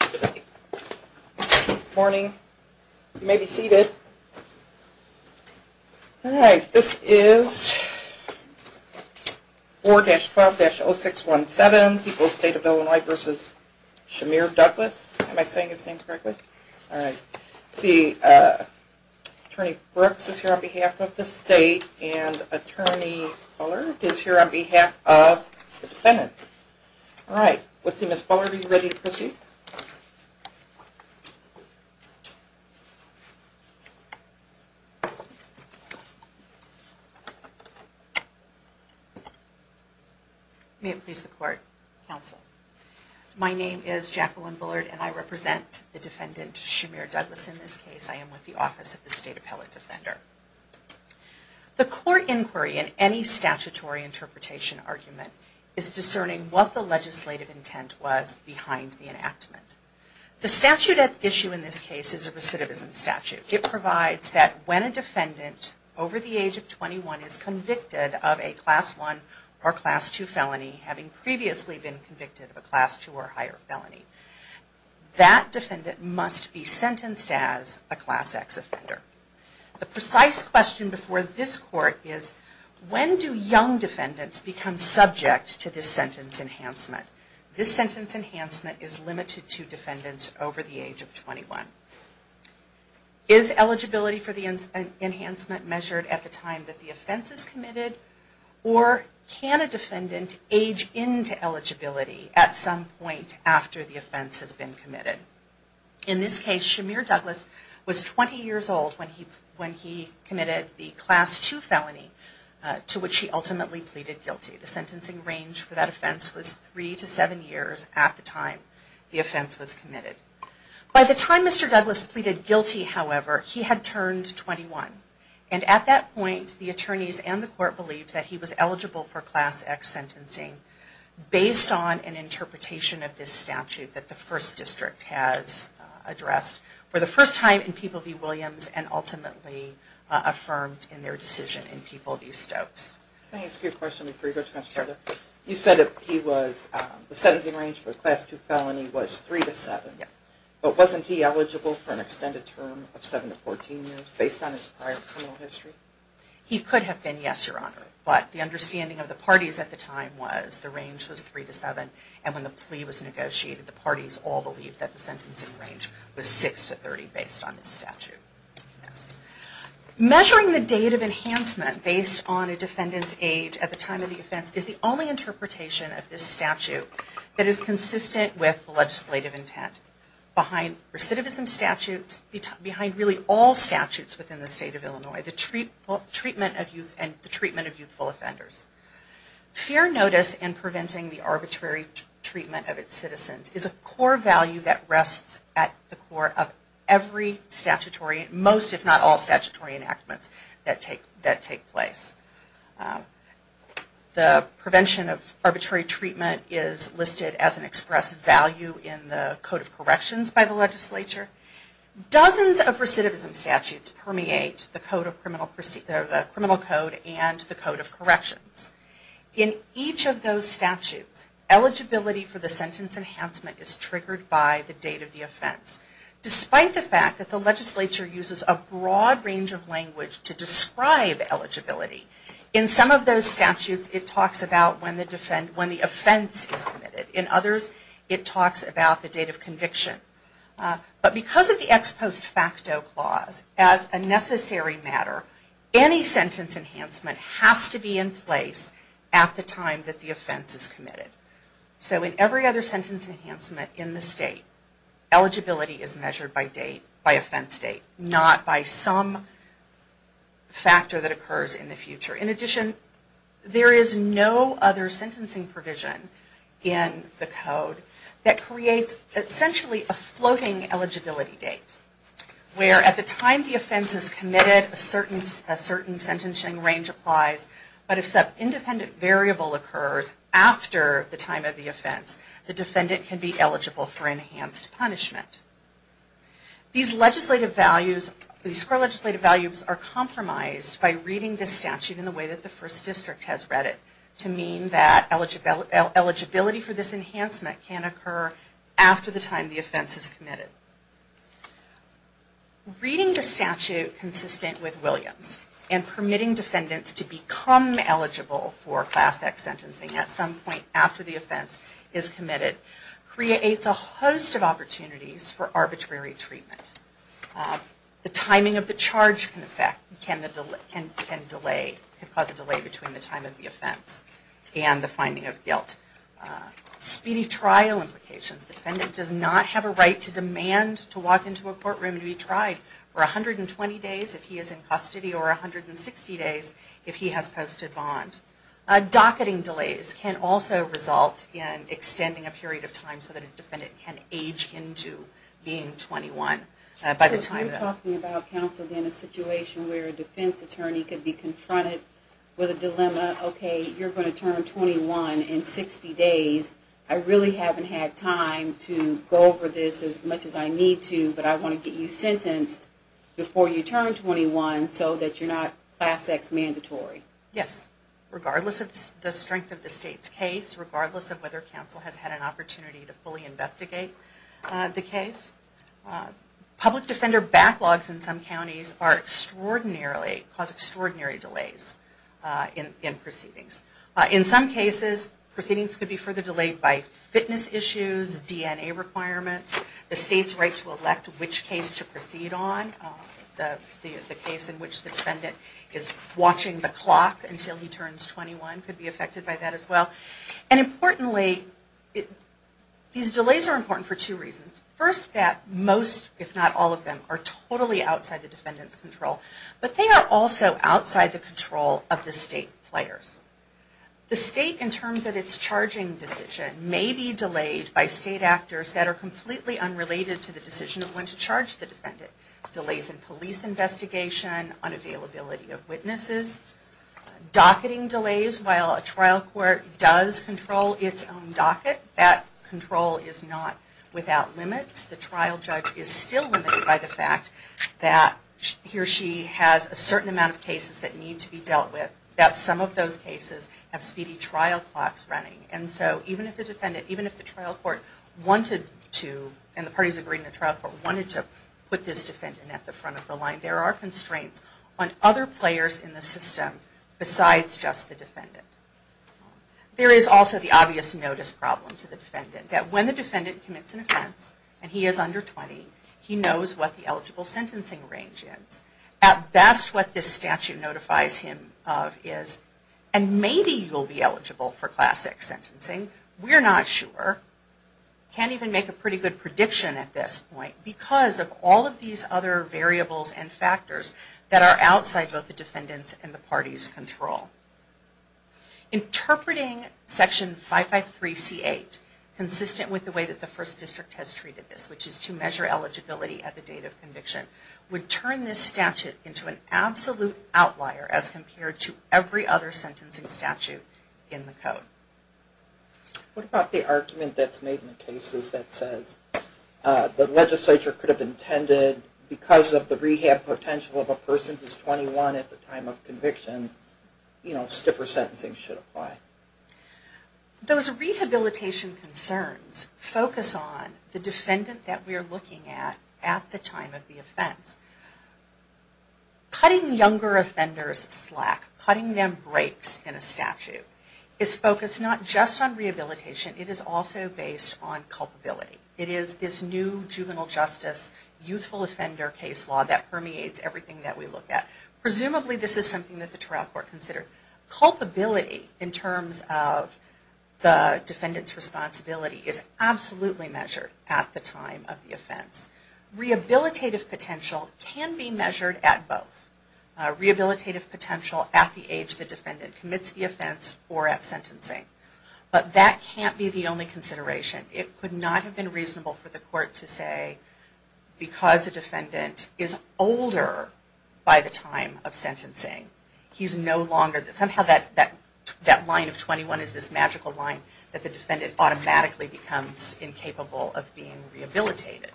Good morning. You may be seated. All right. This is 4-12-0617, People's State of Illinois v. Shamir Douglas. Am I saying his name correctly? All right. Let's see. Attorney Brooks is here on behalf of the state, and Attorney Bullard is here on behalf of the defendant. All right. Let's see. Ms. Bullard, are you ready to proceed? May it please the Court. Counsel. My name is Jacqueline Bullard, and I represent the defendant, Shamir Douglas, in this case. I am with the Office of the State Appellate Defender. The court inquiry in any statutory interpretation argument is discerning what the legislative intent was behind the enactment. The statute at issue in this case is a recidivism statute. It provides that when a defendant over the age of 21 is convicted of a Class I or Class II felony, having previously been convicted of a Class II or higher felony, that defendant must be sentenced as a Class X offender. The precise question before this court is, when do young defendants become subject to this sentence enhancement? This sentence enhancement is limited to defendants over the age of 21. Is eligibility for the enhancement measured at the time that the offense is committed? Or can a defendant age into eligibility at some point after the offense has been committed? In this case, Shamir Douglas was 20 years old when he committed the Class II felony to which he ultimately pleaded guilty. The sentencing range for that offense was three to seven years at the time the offense was committed. By the time Mr. Douglas pleaded guilty, however, he had turned 21. And at that point, the attorneys and the court believed that he was eligible for Class X sentencing based on an interpretation of this statute that the First District has addressed for the first time in People v. Williams and ultimately affirmed in their decision in People v. Stokes. Can I ask you a question before you go to the next question? You said the sentencing range for the Class II felony was three to seven. But wasn't he eligible for an extended term of seven to 14 years based on his prior criminal history? He could have been, yes, Your Honor. But the understanding of the parties at the time was the range was three to seven. And when the plea was negotiated, the parties all believed that the sentencing range was six to 30 based on this statute. Measuring the date of enhancement based on a defendant's age at the time of the offense is the only interpretation of this statute that is consistent with legislative intent. Behind recidivism statutes, behind really all statutes within the state of Illinois, the treatment of youth and the treatment of youthful offenders. Fair notice in preventing the arbitrary treatment of its citizens is a core value that rests at the core of every statutory, most if not all statutory enactments that take place. The prevention of arbitrary treatment is listed as an express value in the Code of Corrections by the legislature. Dozens of recidivism statutes permeate the Criminal Code and the Code of Corrections. In each of those statutes, eligibility for the sentence enhancement is triggered by the date of the offense. Despite the fact that the legislature uses a broad range of language to describe eligibility, in some of those statutes it talks about when the offense is committed. But because of the ex post facto clause, as a necessary matter, any sentence enhancement has to be in place at the time that the offense is committed. So in every other sentence enhancement in the state, eligibility is measured by date, by offense date, not by some factor that occurs in the future. In addition, there is no other sentencing provision in the Code that creates essentially a floating eligibility date, where at the time the offense is committed, a certain sentencing range applies, but if some independent variable occurs after the time of the offense, the defendant can be eligible for enhanced punishment. These legislative values are compromised by reading the statute in the way that the First District has read it, to mean that eligibility for this enhancement can occur after the time the offense is committed. Reading the statute consistent with Williams and permitting defendants to become eligible for Class X sentencing at some point after the offense is committed creates a host of opportunities for arbitrary treatment. The timing of the charge can cause a delay between the time of the offense and the finding of guilt. Speedy trial implications, the defendant does not have a right to demand to walk into a courtroom to be tried for 120 days if he is in custody or 160 days if he has posted bond. Docketing delays can also result in extending a period of time so that a defendant can age into being 21. So you're talking about, counsel, in a situation where a defense attorney could be confronted with a dilemma, okay, you're going to turn 21 in 60 days, I really haven't had time to go over this as much as I need to, but I want to get you sentenced before you turn 21 so that you're not Class X mandatory. Yes, regardless of the strength of the state's case, regardless of whether counsel has had an opportunity to fully investigate the case. Public defender backlogs in some counties cause extraordinary delays in proceedings. In some cases, proceedings could be further delayed by fitness issues, DNA requirements, the state's right to elect which case to proceed on. The case in which the defendant is watching the clock until he turns 21 could be affected by that as well. And importantly, these delays are important for two reasons. First, that most, if not all of them, are totally outside the defendant's control. But they are also outside the control of the state players. The state, in terms of its charging decision, may be delayed by state actors that are completely unrelated to the decision of when to charge the defendant. Delays in police investigation, unavailability of witnesses. Docketing delays, while a trial court does control its own docket, that control is not without limits. The trial judge is still limited by the fact that he or she has a certain amount of cases that need to be dealt with. That some of those cases have speedy trial clocks running. And so even if the defendant, even if the trial court wanted to, and the parties agreeing to the trial court, wanted to put this defendant at the front of the line, there are constraints on other players in the system besides just the defendant. There is also the obvious notice problem to the defendant. That when the defendant commits an offense, and he is under 20, he knows what the eligible sentencing range is. At best, what this statute notifies him of is, and maybe you'll be eligible for classic sentencing. We're not sure. Can't even make a pretty good prediction at this point because of all of these other variables and factors that are outside both the defendant's and the party's control. Interpreting Section 553C8, consistent with the way that the First District has treated this, which is to measure eligibility at the date of conviction, would turn this statute into an absolute outlier as compared to every other sentencing statute in the code. What about the argument that's made in the cases that says the legislature could have intended, because of the rehab potential of a person who is 21 at the time of conviction, you know, stiffer sentencing should apply? Those rehabilitation concerns focus on the defendant that we are looking at at the time of the offense. Cutting younger offenders slack, cutting them breaks in a statute, is focused not just on rehabilitation, it is also based on culpability. It is this new juvenile justice, youthful offender case law that permeates everything that we look at. Presumably this is something that the trial court considered. Culpability in terms of the defendant's responsibility is absolutely measured at the time of the offense. Rehabilitative potential can be measured at both. Rehabilitative potential at the age the defendant commits the offense or at sentencing. But that can't be the only consideration. It could not have been reasonable for the court to say, because the defendant is older by the time of sentencing, he is no longer, somehow that line of 21 is this magical line that the defendant automatically becomes incapable of being rehabilitated.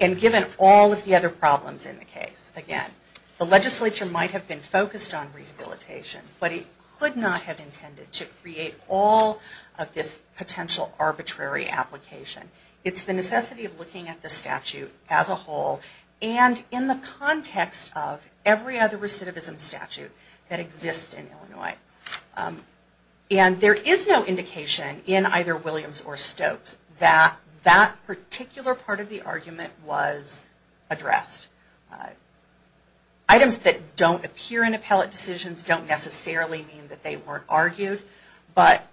And given all of the other problems in the case, again, the legislature might have been focused on rehabilitation, but it could not have intended to create all of this potential arbitrary application. It's the necessity of looking at the statute as a whole and in the context of every other recidivism statute that exists in Illinois. And there is no indication in either Williams or Stokes that that particular part of the argument was addressed. Items that don't appear in appellate decisions don't necessarily mean that they weren't argued, but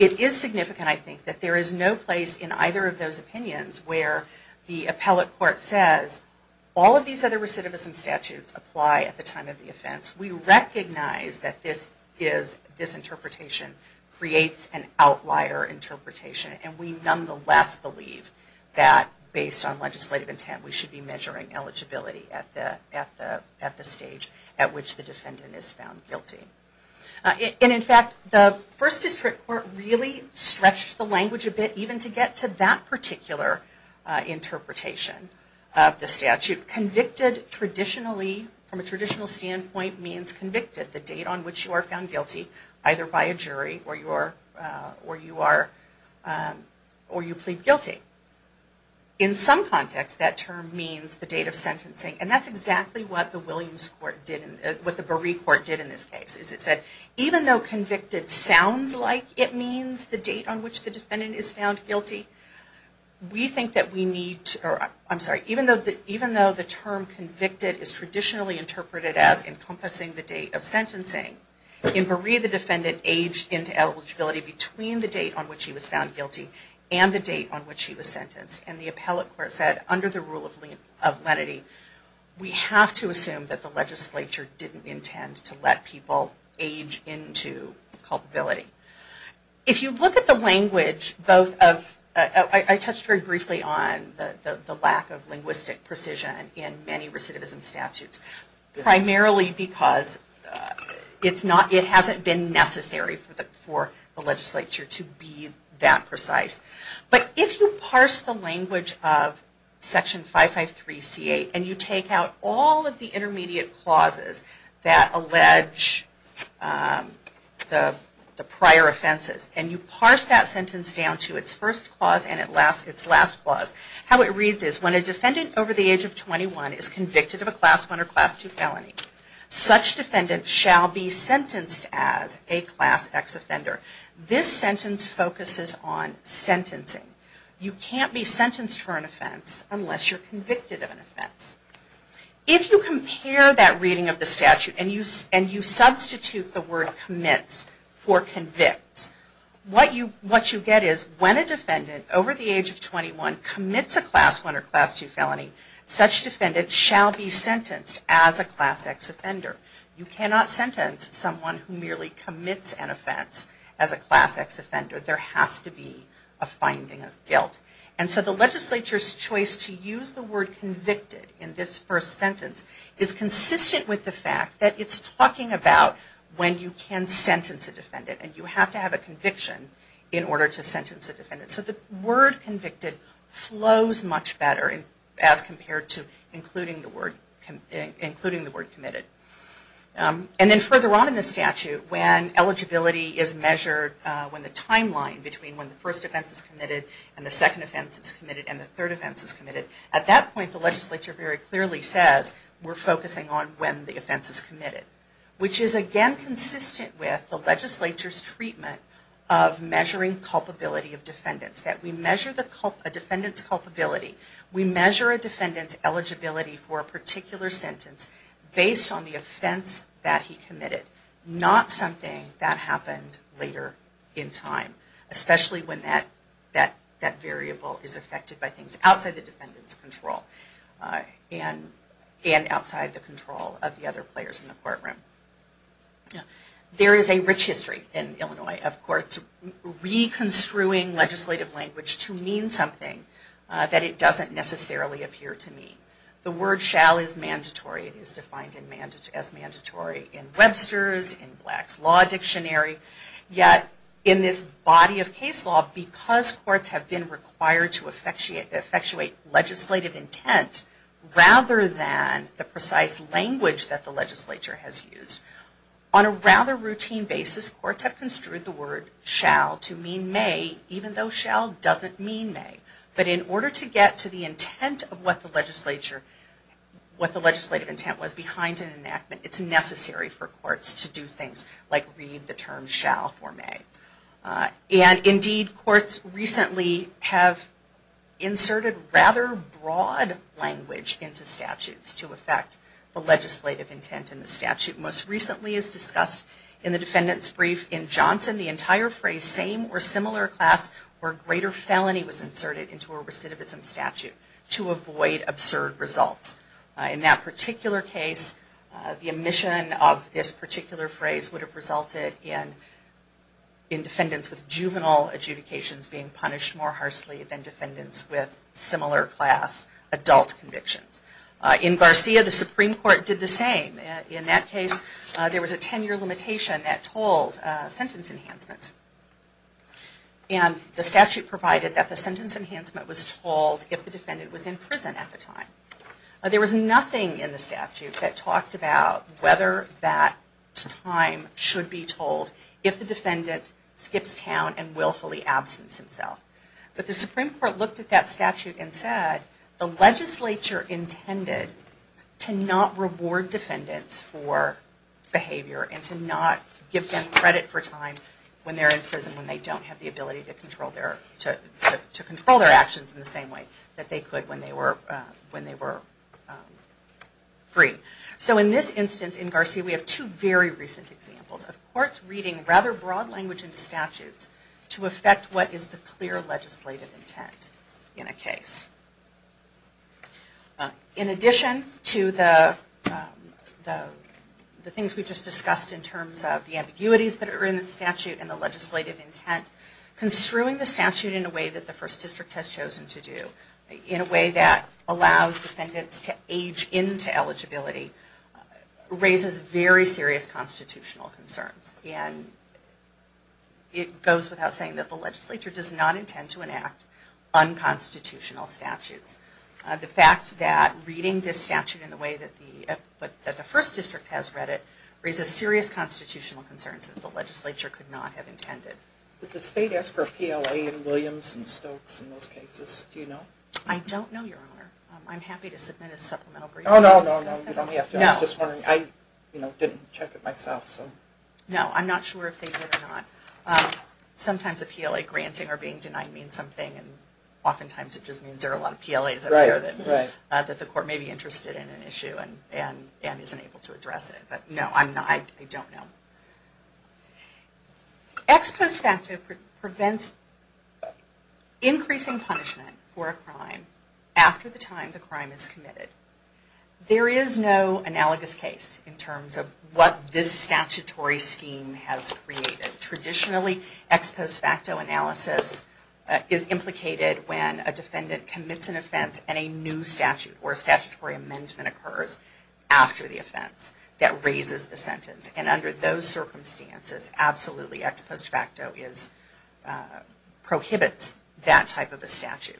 it is significant, I think, that there is no place in either of those opinions where the appellate court says, all of these other recidivism statutes apply at the time of the offense. We recognize that this interpretation creates an outlier interpretation, and we nonetheless believe that based on legislative intent, we should be measuring eligibility at the stage at which the defendant is found guilty. And in fact, the First District Court really stretched the language a bit even to get to that particular interpretation of the statute. Convicted traditionally, from a traditional standpoint, means convicted, the date on which you are found guilty, either by a jury or you plead guilty. In some context, that term means the date of sentencing, and that's exactly what the Williams Court did, what the Buree Court did in this case. It said, even though convicted sounds like it means the date on which the defendant is found guilty, we think that we need, I'm sorry, even though the term convicted is traditionally interpreted as encompassing the date of sentencing, in Buree the defendant aged into eligibility between the date on which he was found guilty and the date on which he was sentenced. And the appellate court said, under the rule of lenity, we have to assume that the legislature didn't intend to let people age into culpability. If you look at the language, I touched very briefly on the lack of linguistic precision in many recidivism statutes, primarily because it hasn't been necessary for the legislature to be that precise. But if you parse the language of Section 553C8, and you take out all of the intermediate clauses that allege the prior offenses, and you parse that sentence down to its first clause and its last clause, how it reads is, when a defendant over the age of 21 is convicted of a Class I or Class II felony, such defendant shall be sentenced as a Class X offender. This sentence focuses on sentencing. You can't be sentenced for an offense unless you're convicted of an offense. If you compare that reading of the statute and you substitute the word commits for convicts, what you get is, when a defendant over the age of 21 commits a Class I or Class II felony, such defendant shall be sentenced as a Class X offender. You cannot sentence someone who merely commits an offense as a Class X offender. There has to be a finding of guilt. And so the legislature's choice to use the word convicted in this first sentence is consistent with the fact that it's talking about when you can sentence a defendant. And you have to have a conviction in order to sentence a defendant. So the word convicted flows much better as compared to including the word committed. And then further on in the statute, when eligibility is measured, when the timeline between when the first offense is committed and the second offense is committed and the third offense is committed, at that point the legislature very clearly says, which is again consistent with the legislature's treatment of measuring culpability of defendants. That we measure a defendant's culpability. We measure a defendant's eligibility for a particular sentence based on the offense that he committed. Not something that happened later in time, especially when that variable is affected by things outside the defendant's control and outside the control of the other players in the courtroom. There is a rich history in Illinois of courts reconstruing legislative language to mean something that it doesn't necessarily appear to mean. The word shall is mandatory. It is defined as mandatory in Webster's, in Black's Law Dictionary. Yet in this body of case law, because courts have been required to effectuate legislative intent, rather than the precise language that the legislature has used, on a rather routine basis courts have construed the word shall to mean may, even though shall doesn't mean may. But in order to get to the intent of what the legislature, what the legislative intent was behind an enactment, it's necessary for courts to do things like read the term shall for may. And indeed courts recently have inserted rather broad language into statutes to effect the legislative intent in the statute. Most recently as discussed in the defendant's brief in Johnson, the entire phrase same or similar class or greater felony was inserted into a recidivism statute to avoid absurd results. In that particular case the omission of this particular phrase would have resulted in defendants with juvenile adjudications being punished more harshly than defendants with similar class adult convictions. In Garcia the Supreme Court did the same. In that case there was a ten year limitation that told sentence enhancements. And the statute provided that the sentence enhancement was told if the defendant was in prison at the time. There was nothing in the statute that talked about whether that time should be told if the defendant skips town and willfully absents himself. But the Supreme Court looked at that statute and said the legislature intended to not reward defendants for behavior and to not give them credit for time when they're in prison when they don't have the ability to control their actions in the same way that they could when they were free. So in this instance in Garcia we have two very recent examples. Of courts reading rather broad language into statutes to affect what is the clear legislative intent in a case. In addition to the things we just discussed in terms of the ambiguities that are in the statute and the legislative intent, construing the statute in a way that the First District has chosen to do in a way that allows defendants to age into eligibility raises very serious constitutional concerns. And it goes without saying that the legislature does not intend to enact unconstitutional statutes. The fact that reading this statute in the way that the First District has read it raises serious constitutional concerns that the legislature could not have intended. Did the state ask for a PLA in Williams and Stokes in those cases? Do you know? I don't know, Your Honor. I'm happy to submit a supplemental briefing. Oh no, no, no. I was just wondering. I didn't check it myself. No, I'm not sure if they did or not. Sometimes a PLA granting or being denied means something and oftentimes it just means there are a lot of PLAs out there that the court may be interested in an issue and isn't able to address it. But no, I don't know. Ex post facto prevents increasing punishment for a crime after the time the crime is committed. There is no analogous case in terms of what this statutory scheme has created. Traditionally, ex post facto analysis is implicated when a defendant commits an offense and a new statute or statutory amendment occurs after the offense that raises the sentence. And under those circumstances, absolutely ex post facto prohibits that type of a statute.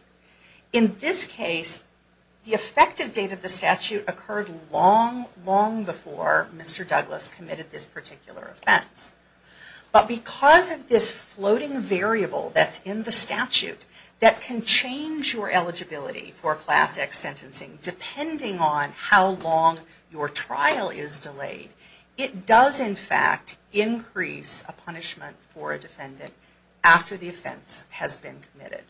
In this case, the effective date of the statute occurred long, long before Mr. Douglas committed this particular offense. But because of this floating variable that's in the statute that can change your eligibility for Class X sentencing depending on how long your trial is delayed, it does in fact increase a punishment for a defendant after the offense has been committed.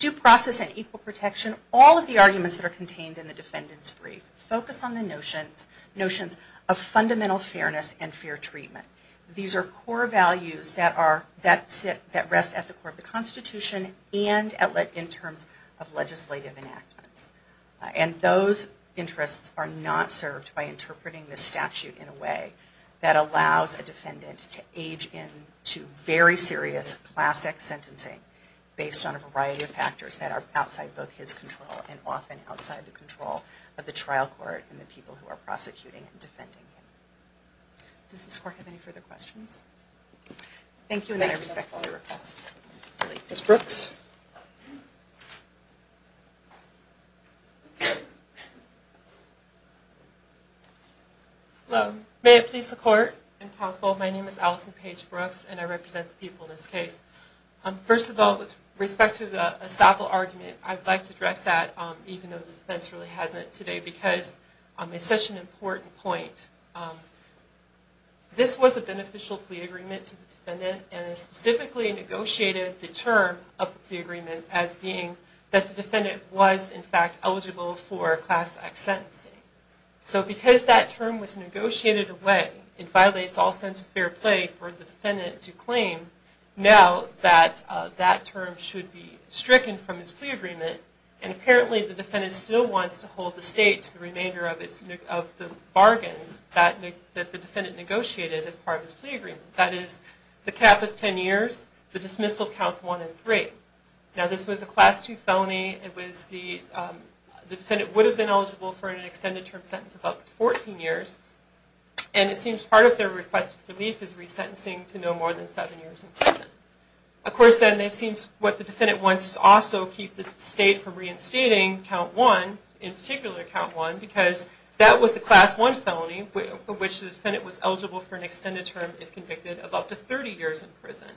Due process and equal protection, all of the arguments that are contained in the defendant's brief focus on the notions of fundamental fairness and fair treatment. These are core values that rest at the core of the Constitution and in terms of legislative enactments. And those interests are not served by interpreting the statute in a way that allows a defendant to age into very serious Class X sentencing based on a variety of factors that are outside both his control and often outside the control of the trial court and the people who are prosecuting and defending him. Does this court have any further questions? Thank you and I respect all your requests. Ms. Brooks? Hello. May it please the court and counsel, my name is Allison Paige Brooks and I represent the people in this case. First of all, with respect to the estoppel argument, I'd like to address that even though the defense really hasn't today because it's such an important point. This was a beneficial plea agreement to the defendant and it specifically negotiated the term of the plea agreement as being that the defendant was in fact eligible for Class X sentencing. So because that term was negotiated away, it violates all sense of fair play for the defendant to claim now that that term should be stricken from his plea agreement and apparently the defendant still wants to hold the state to the remainder of the bargains that the defendant negotiated as part of his plea agreement. That is the cap of 10 years, the dismissal of counts 1 and 3. Now this was a Class II felony. The defendant would have been eligible for an extended term sentence of up to 14 years and it seems part of their request for relief is resentencing to no more than 7 years in prison. Of course then it seems what the defendant wants is to also keep the state from reinstating count 1, in particular count 1, if convicted of up to 30 years in prison.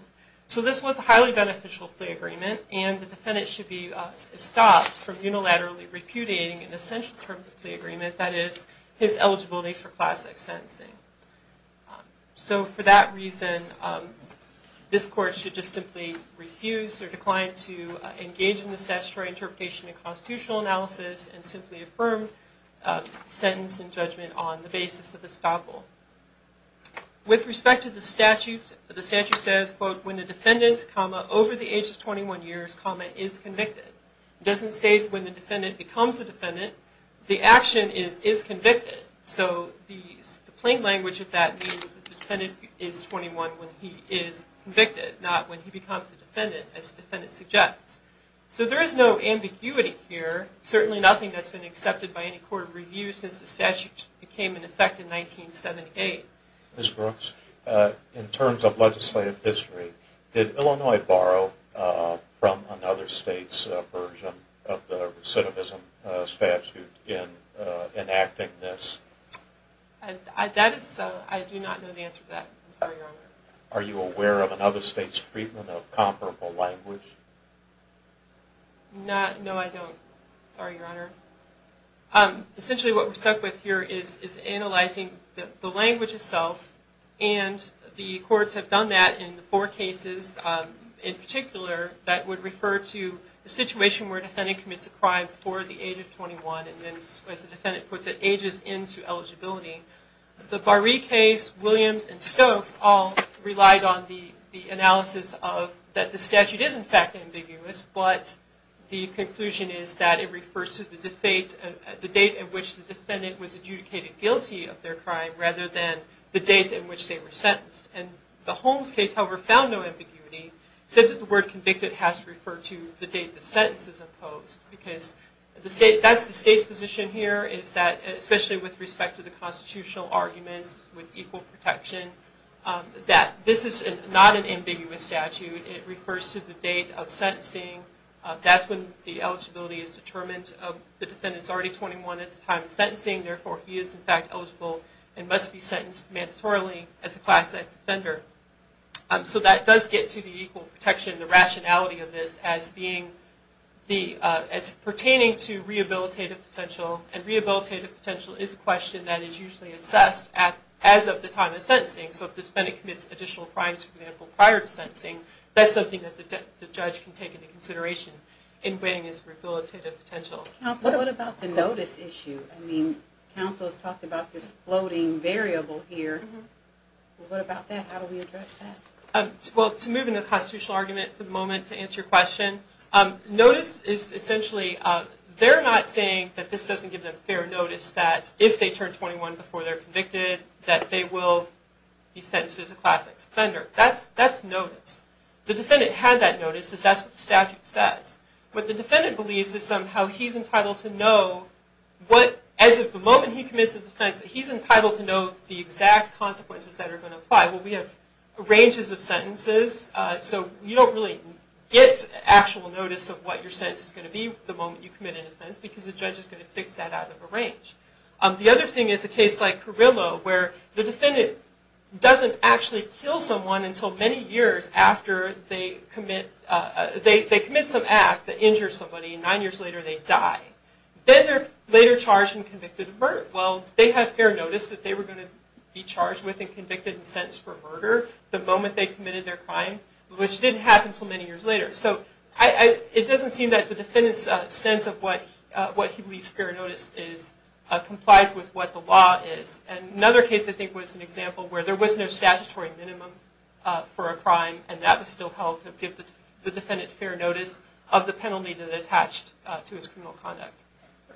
So this was a highly beneficial plea agreement and the defendant should be stopped from unilaterally repudiating an essential term of the plea agreement, that is his eligibility for Class X sentencing. So for that reason, this court should just simply refuse or decline to engage in the statutory interpretation and constitutional analysis and simply affirm sentence and judgment on the basis of this example. With respect to the statute, the statute says, quote, when a defendant, comma, over the age of 21 years, comma, is convicted. It doesn't say when the defendant becomes a defendant. The action is, is convicted. So the plain language of that means the defendant is 21 when he is convicted, not when he becomes a defendant, as the defendant suggests. So there is no ambiguity here, certainly nothing that's been accepted by any court of review since the statute became in effect in 1978. Ms. Brooks, in terms of legislative history, did Illinois borrow from another state's version of the recidivism statute in enacting this? That is, I do not know the answer to that. Are you aware of another state's treatment of comparable language? No, I don't. Sorry, Your Honor. Essentially, what we're stuck with here is analyzing the language itself, and the courts have done that in four cases in particular that would refer to the situation where a defendant commits a crime before the age of 21, and then, as the defendant puts it, ages into eligibility. The Barree case, Williams, and Stokes all relied on the analysis of that the statute is, in fact, ambiguous, but the conclusion is that it refers to the date at which the defendant was adjudicated guilty of their crime rather than the date at which they were sentenced. And the Holmes case, however, found no ambiguity, except that the word convicted has to refer to the date the sentence is imposed, because that's the state's position here, especially with respect to the constitutional arguments with equal protection, that this is not an ambiguous statute. It refers to the date of sentencing. That's when the eligibility is determined. The defendant is already 21 at the time of sentencing, therefore he is, in fact, eligible and must be sentenced mandatorily as a class X offender. So that does get to the equal protection, the rationality of this, as pertaining to rehabilitative potential, and rehabilitative potential is a question that is usually assessed as of the time of sentencing. So if the defendant commits additional crimes, for example, prior to sentencing, that's something that the judge can take into consideration in weighing his rehabilitative potential. Counsel, what about the notice issue? I mean, counsel has talked about this floating variable here. What about that? How do we address that? Well, to move into the constitutional argument for the moment to answer your question, notice is essentially, they're not saying that this doesn't give them fair notice, that if they turn 21 before they're convicted, that they will be sentenced as a class X offender. That's notice. The defendant had that notice, because that's what the statute says. What the defendant believes is somehow he's entitled to know what, as of the moment he commits his offense, he's entitled to know the exact consequences that are going to apply. Well, we have ranges of sentences, so you don't really get actual notice of what your sentence is going to be the moment you commit an offense, because the judge is going to fix that out of a range. The other thing is a case like Carrillo, where the defendant doesn't actually kill someone until many years after they commit some act that injures somebody, and nine years later they die. Then they're later charged and convicted of murder. Well, they have fair notice that they were going to be charged with and convicted and sentenced for murder the moment they committed their crime, which didn't happen until many years later. It doesn't seem that the defendant's sense of what he believes fair notice is complies with what the law is. Another case I think was an example where there was no statutory minimum for a crime, and that was still held to give the defendant fair notice of the penalty that attached to his criminal conduct.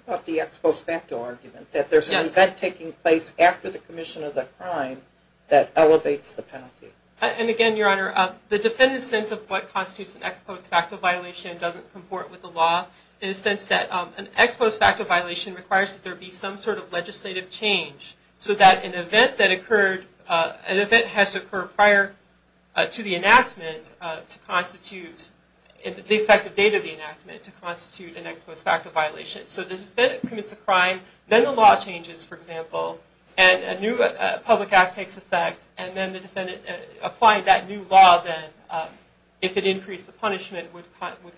What about the ex post facto argument, that there's an event taking place after the commission of the crime that elevates the penalty? Again, Your Honor, the defendant's sense of what constitutes an ex post facto violation doesn't comport with the law in the sense that an ex post facto violation requires that there be some sort of legislative change, so that an event has to occur prior to the enactment to constitute the effective date of the enactment to constitute an ex post facto violation. So the defendant commits a crime, then the law changes, for example, and a new public act takes effect, and then the defendant applied that new law, then if it increased the punishment, would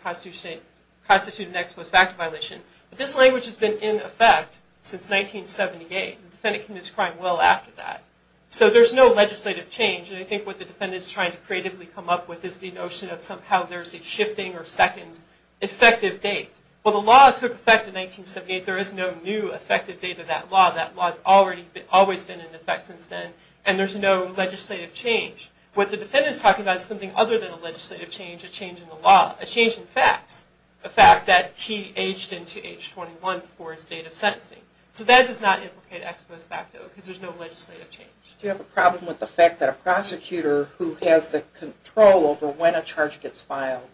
constitute an ex post facto violation. But this language has been in effect since 1978, and the defendant commits a crime well after that. So there's no legislative change, and I think what the defendant is trying to creatively come up with is the notion of somehow there's a shifting or second effective date. Well, the law took effect in 1978. There is no new effective date of that law. That law has always been in effect since then, and there's no legislative change. What the defendant is talking about is something other than a legislative change, a change in the law, a change in facts, a fact that he aged into age 21 before his date of sentencing. So that does not implicate ex post facto, because there's no legislative change. Do you have a problem with the fact that a prosecutor who has the control over when a charge gets filed,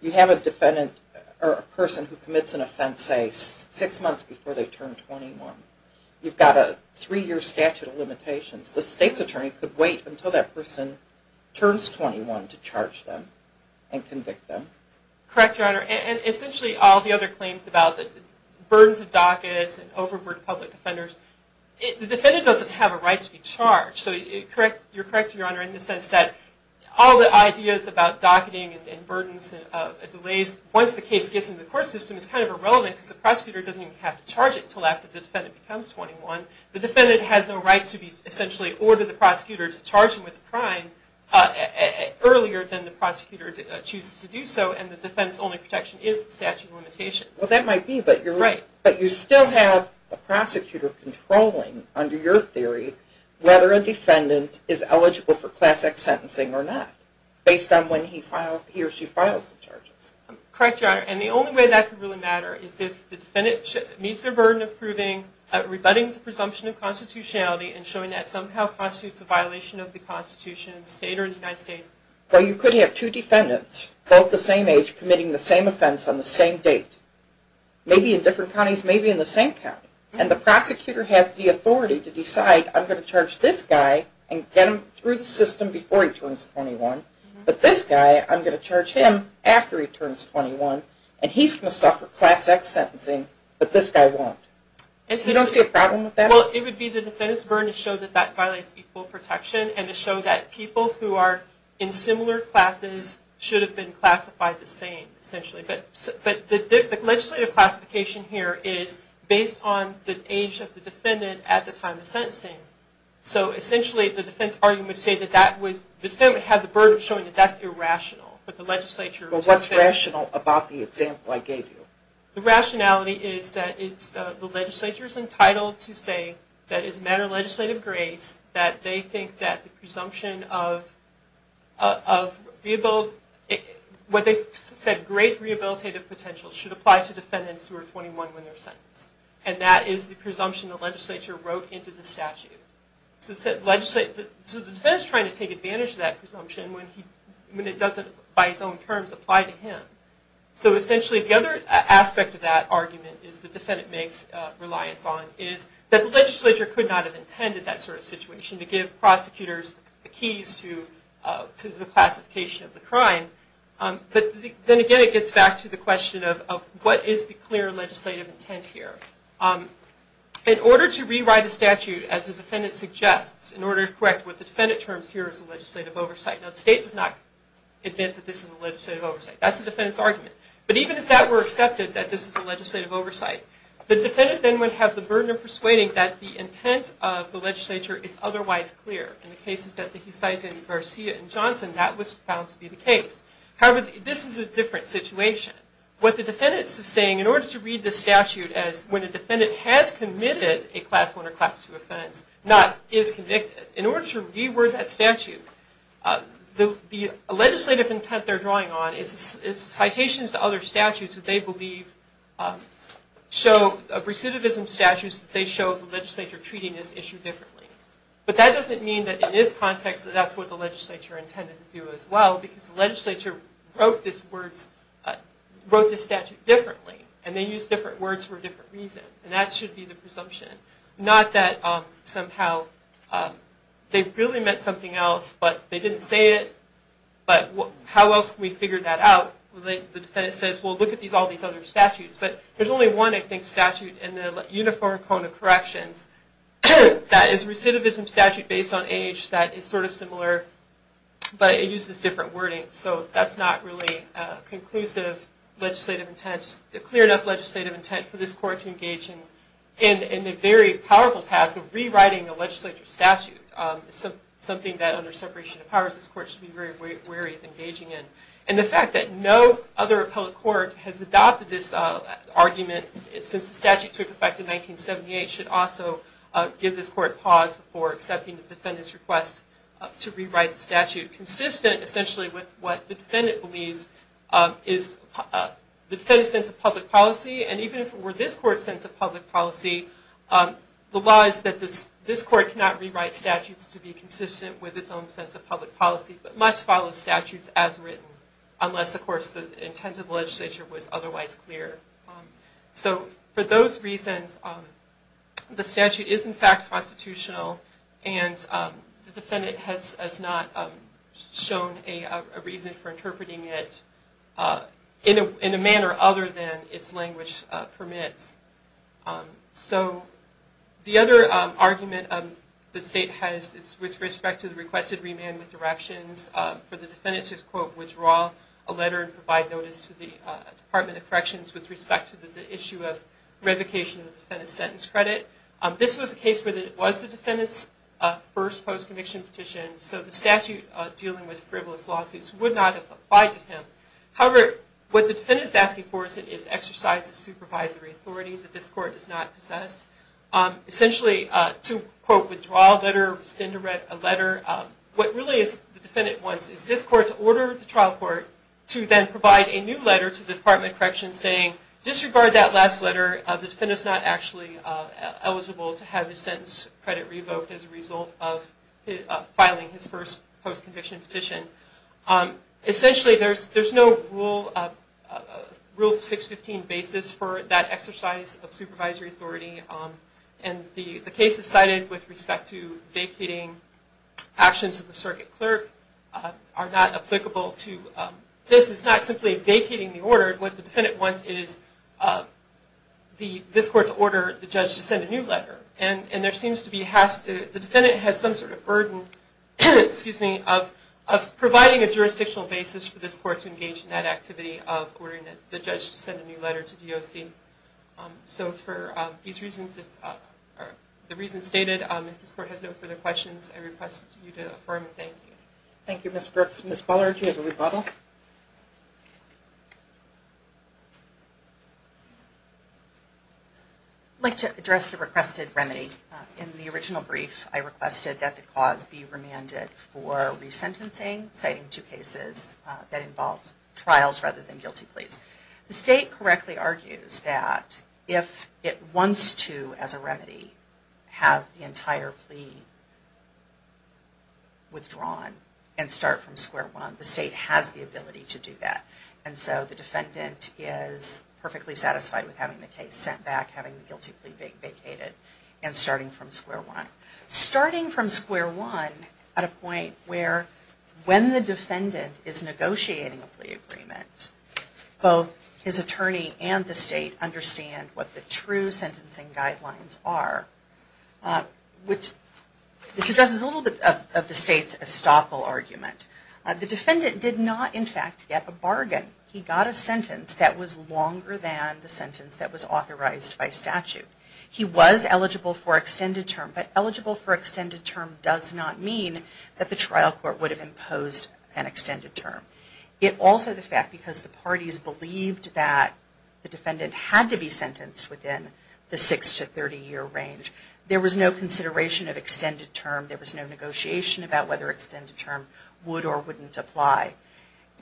you have a person who commits an offense, say, six months before they turn 21. You've got a three-year statute of limitations. The state's attorney could wait until that person turns 21 to charge them and convict them. Correct, Your Honor, and essentially all the other claims about the burdens of dockets and overburdened public defenders, the defendant doesn't have a right to be charged. So you're correct, Your Honor, in the sense that all the ideas about docketing and burdens and delays, once the case gets into the court system, is kind of irrelevant because the prosecutor doesn't even have to charge it until after the defendant becomes 21. The defendant has no right to essentially order the prosecutor to charge him with a crime earlier than the prosecutor chooses to do so, and the defense-only protection is the statute of limitations. Well, that might be, but you're right. But you still have a prosecutor controlling, under your theory, whether a defendant is eligible for class X sentencing or not, based on when he or she files the charges. Correct, Your Honor, and the only way that could really matter is if the defendant meets their burden of proving, rebutting the presumption of constitutionality and showing that somehow constitutes a violation of the Constitution in the state or in the United States. Well, you could have two defendants, both the same age, committing the same offense on the same date, maybe in different counties, maybe in the same county, and the prosecutor has the authority to decide, I'm going to charge this guy and get him through the system before he turns 21, but this guy, I'm going to charge him after he turns 21, and he's going to suffer class X sentencing, but this guy won't. You don't see a problem with that? Well, it would be the defendant's burden to show that that violates equal protection, and to show that people who are in similar classes should have been classified the same, essentially. But the legislative classification here is based on the age of the defendant at the time of sentencing. So, essentially, the defense argument would say that the defendant would have the burden of showing that that's irrational, but the legislature... But what's rational about the example I gave you? The rationality is that the legislature is entitled to say that as a matter of legislative grace, that they think that the presumption of what they said, great rehabilitative potential, should apply to defendants who are 21 when they're sentenced. And that is the presumption the legislature wrote into the statute. So the defense is trying to take advantage of that presumption when it doesn't, by its own terms, apply to him. So, essentially, the other aspect of that argument, is the defendant makes reliance on, is that the legislature could not have intended that sort of situation to give prosecutors the keys to the classification of the crime. But then again, it gets back to the question of what is the clear legislative intent here? In order to rewrite the statute, as the defendant suggests, in order to correct what the defendant terms here as a legislative oversight. Now, the state does not admit that this is a legislative oversight. That's the defendant's argument. But even if that were accepted, that this is a legislative oversight, the defendant then would have the burden of persuading that the intent of the legislature is otherwise clear. In the cases that he cites in Garcia and Johnson, that was found to be the case. However, this is a different situation. What the defendant is saying, in order to read the statute as when a defendant has committed a Class I or Class II offense, not is convicted, in order to reword that statute, the legislative intent they're drawing on is citations to other statutes that they believe show recidivism statutes, they show the legislature treating this issue differently. But that doesn't mean that in this context, that's what the legislature intended to do as well, because the legislature wrote this statute differently. And they used different words for a different reason. And that should be the presumption. Not that somehow they really meant something else, but they didn't say it. But how else can we figure that out? The defendant says, well, look at all these other statutes. But there's only one, I think, statute in the Uniform Code of Corrections that is a recidivism statute based on age that is sort of similar, but it uses different wording. So that's not really a conclusive legislative intent, just a clear enough legislative intent for this court to engage in the very powerful task of rewriting a legislature statute, something that under separation of powers, this court should be very wary of engaging in. And the fact that no other appellate court has adopted this argument since the statute took effect in 1978 should also give this court pause before accepting the defendant's request to rewrite the statute, consistent essentially with what the defendant believes is the defendant's sense of public policy. And even if it were this court's sense of public policy, the law is that this court cannot rewrite statutes to be consistent with its own sense of public policy, but must follow statutes as written unless, of course, the intent of the legislature was otherwise clear. So for those reasons, the statute is in fact constitutional, and the defendant has not shown a reason for interpreting it in a manner other than its language permits. So the other argument the state has is with respect to the requested remand with directions for the defendant to, quote, withdraw a letter and provide notice to the Department of Corrections with respect to the issue of revocation of the defendant's sentence credit. This was a case where it was the defendant's first post-conviction petition, so the statute dealing with frivolous lawsuits would not have applied to him. However, what the defendant is asking for is exercise of supervisory authority that this court does not possess. Essentially, to, quote, withdraw a letter, send a letter, what really the defendant wants is this court to order the trial court to then provide a new letter to the Department of Corrections saying, disregard that last letter. The defendant is not actually eligible to have his sentence credit revoked as a result of filing his first post-conviction petition. Essentially, there's no Rule 615 basis for that exercise of supervisory authority, and the cases cited with respect to vacating actions of the circuit clerk are not applicable to this. It's not simply vacating the order. What the defendant wants is this court to order the judge to send a new letter, and there seems to be, the defendant has some sort of burden of providing a jurisdictional basis for this court to engage in that activity of ordering the judge to send a new letter to DOC. So for the reasons stated, if this court has no further questions, I request you to affirm and thank you. Thank you, Ms. Brooks. Ms. Ballard, do you have a rebuttal? I'd like to address the requested remedy. In the original brief, I requested that the cause be remanded for resentencing, citing two cases that involved trials rather than guilty pleas. The state correctly argues that if it wants to, as a remedy, have the entire plea withdrawn and start from square one, the state has the ability to do that. And so the defendant is perfectly satisfied with having the case sent back, having the guilty plea vacated, and starting from square one. Starting from square one at a point where, when the defendant is negotiating a plea agreement, both his attorney and the state understand what the true sentencing guidelines are, which this addresses a little bit of the state's estoppel argument. The defendant did not, in fact, get a bargain. He got a sentence that was longer than the sentence that was authorized by statute. He was eligible for extended term, but eligible for extended term does not mean that the trial court would have imposed an extended term. It also, the fact, because the parties believed that the defendant had to be sentenced within the six to 30 year range, there was no consideration of extended term, there was no negotiation about whether extended term would or wouldn't apply.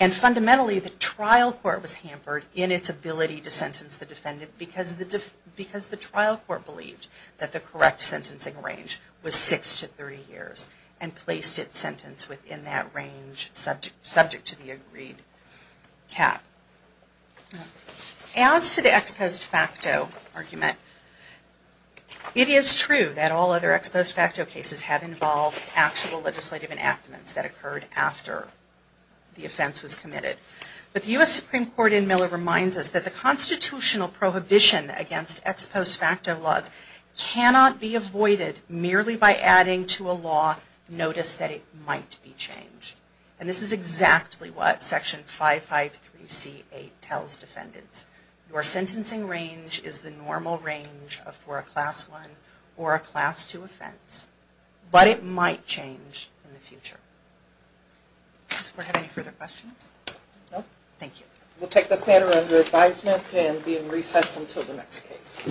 And fundamentally, the trial court was hampered in its ability to sentence the defendant because the trial court believed that the correct sentencing range was six to 30 years and placed its sentence within that range, subject to the agreed cap. As to the ex post facto argument, it is true that all other ex post facto cases have involved actual legislative enactments that occurred after the offense was committed. But the U.S. Supreme Court in Miller reminds us that the constitutional prohibition against ex post facto laws cannot be avoided merely by adding to a law notice that it might be changed. And this is exactly what Section 553C8 tells defendants. Your sentencing range is the normal range for a Class I or a Class II offense, but it might change in the future. Does the court have any further questions? No. Thank you. We'll take this matter under advisement and be in recess until the next case.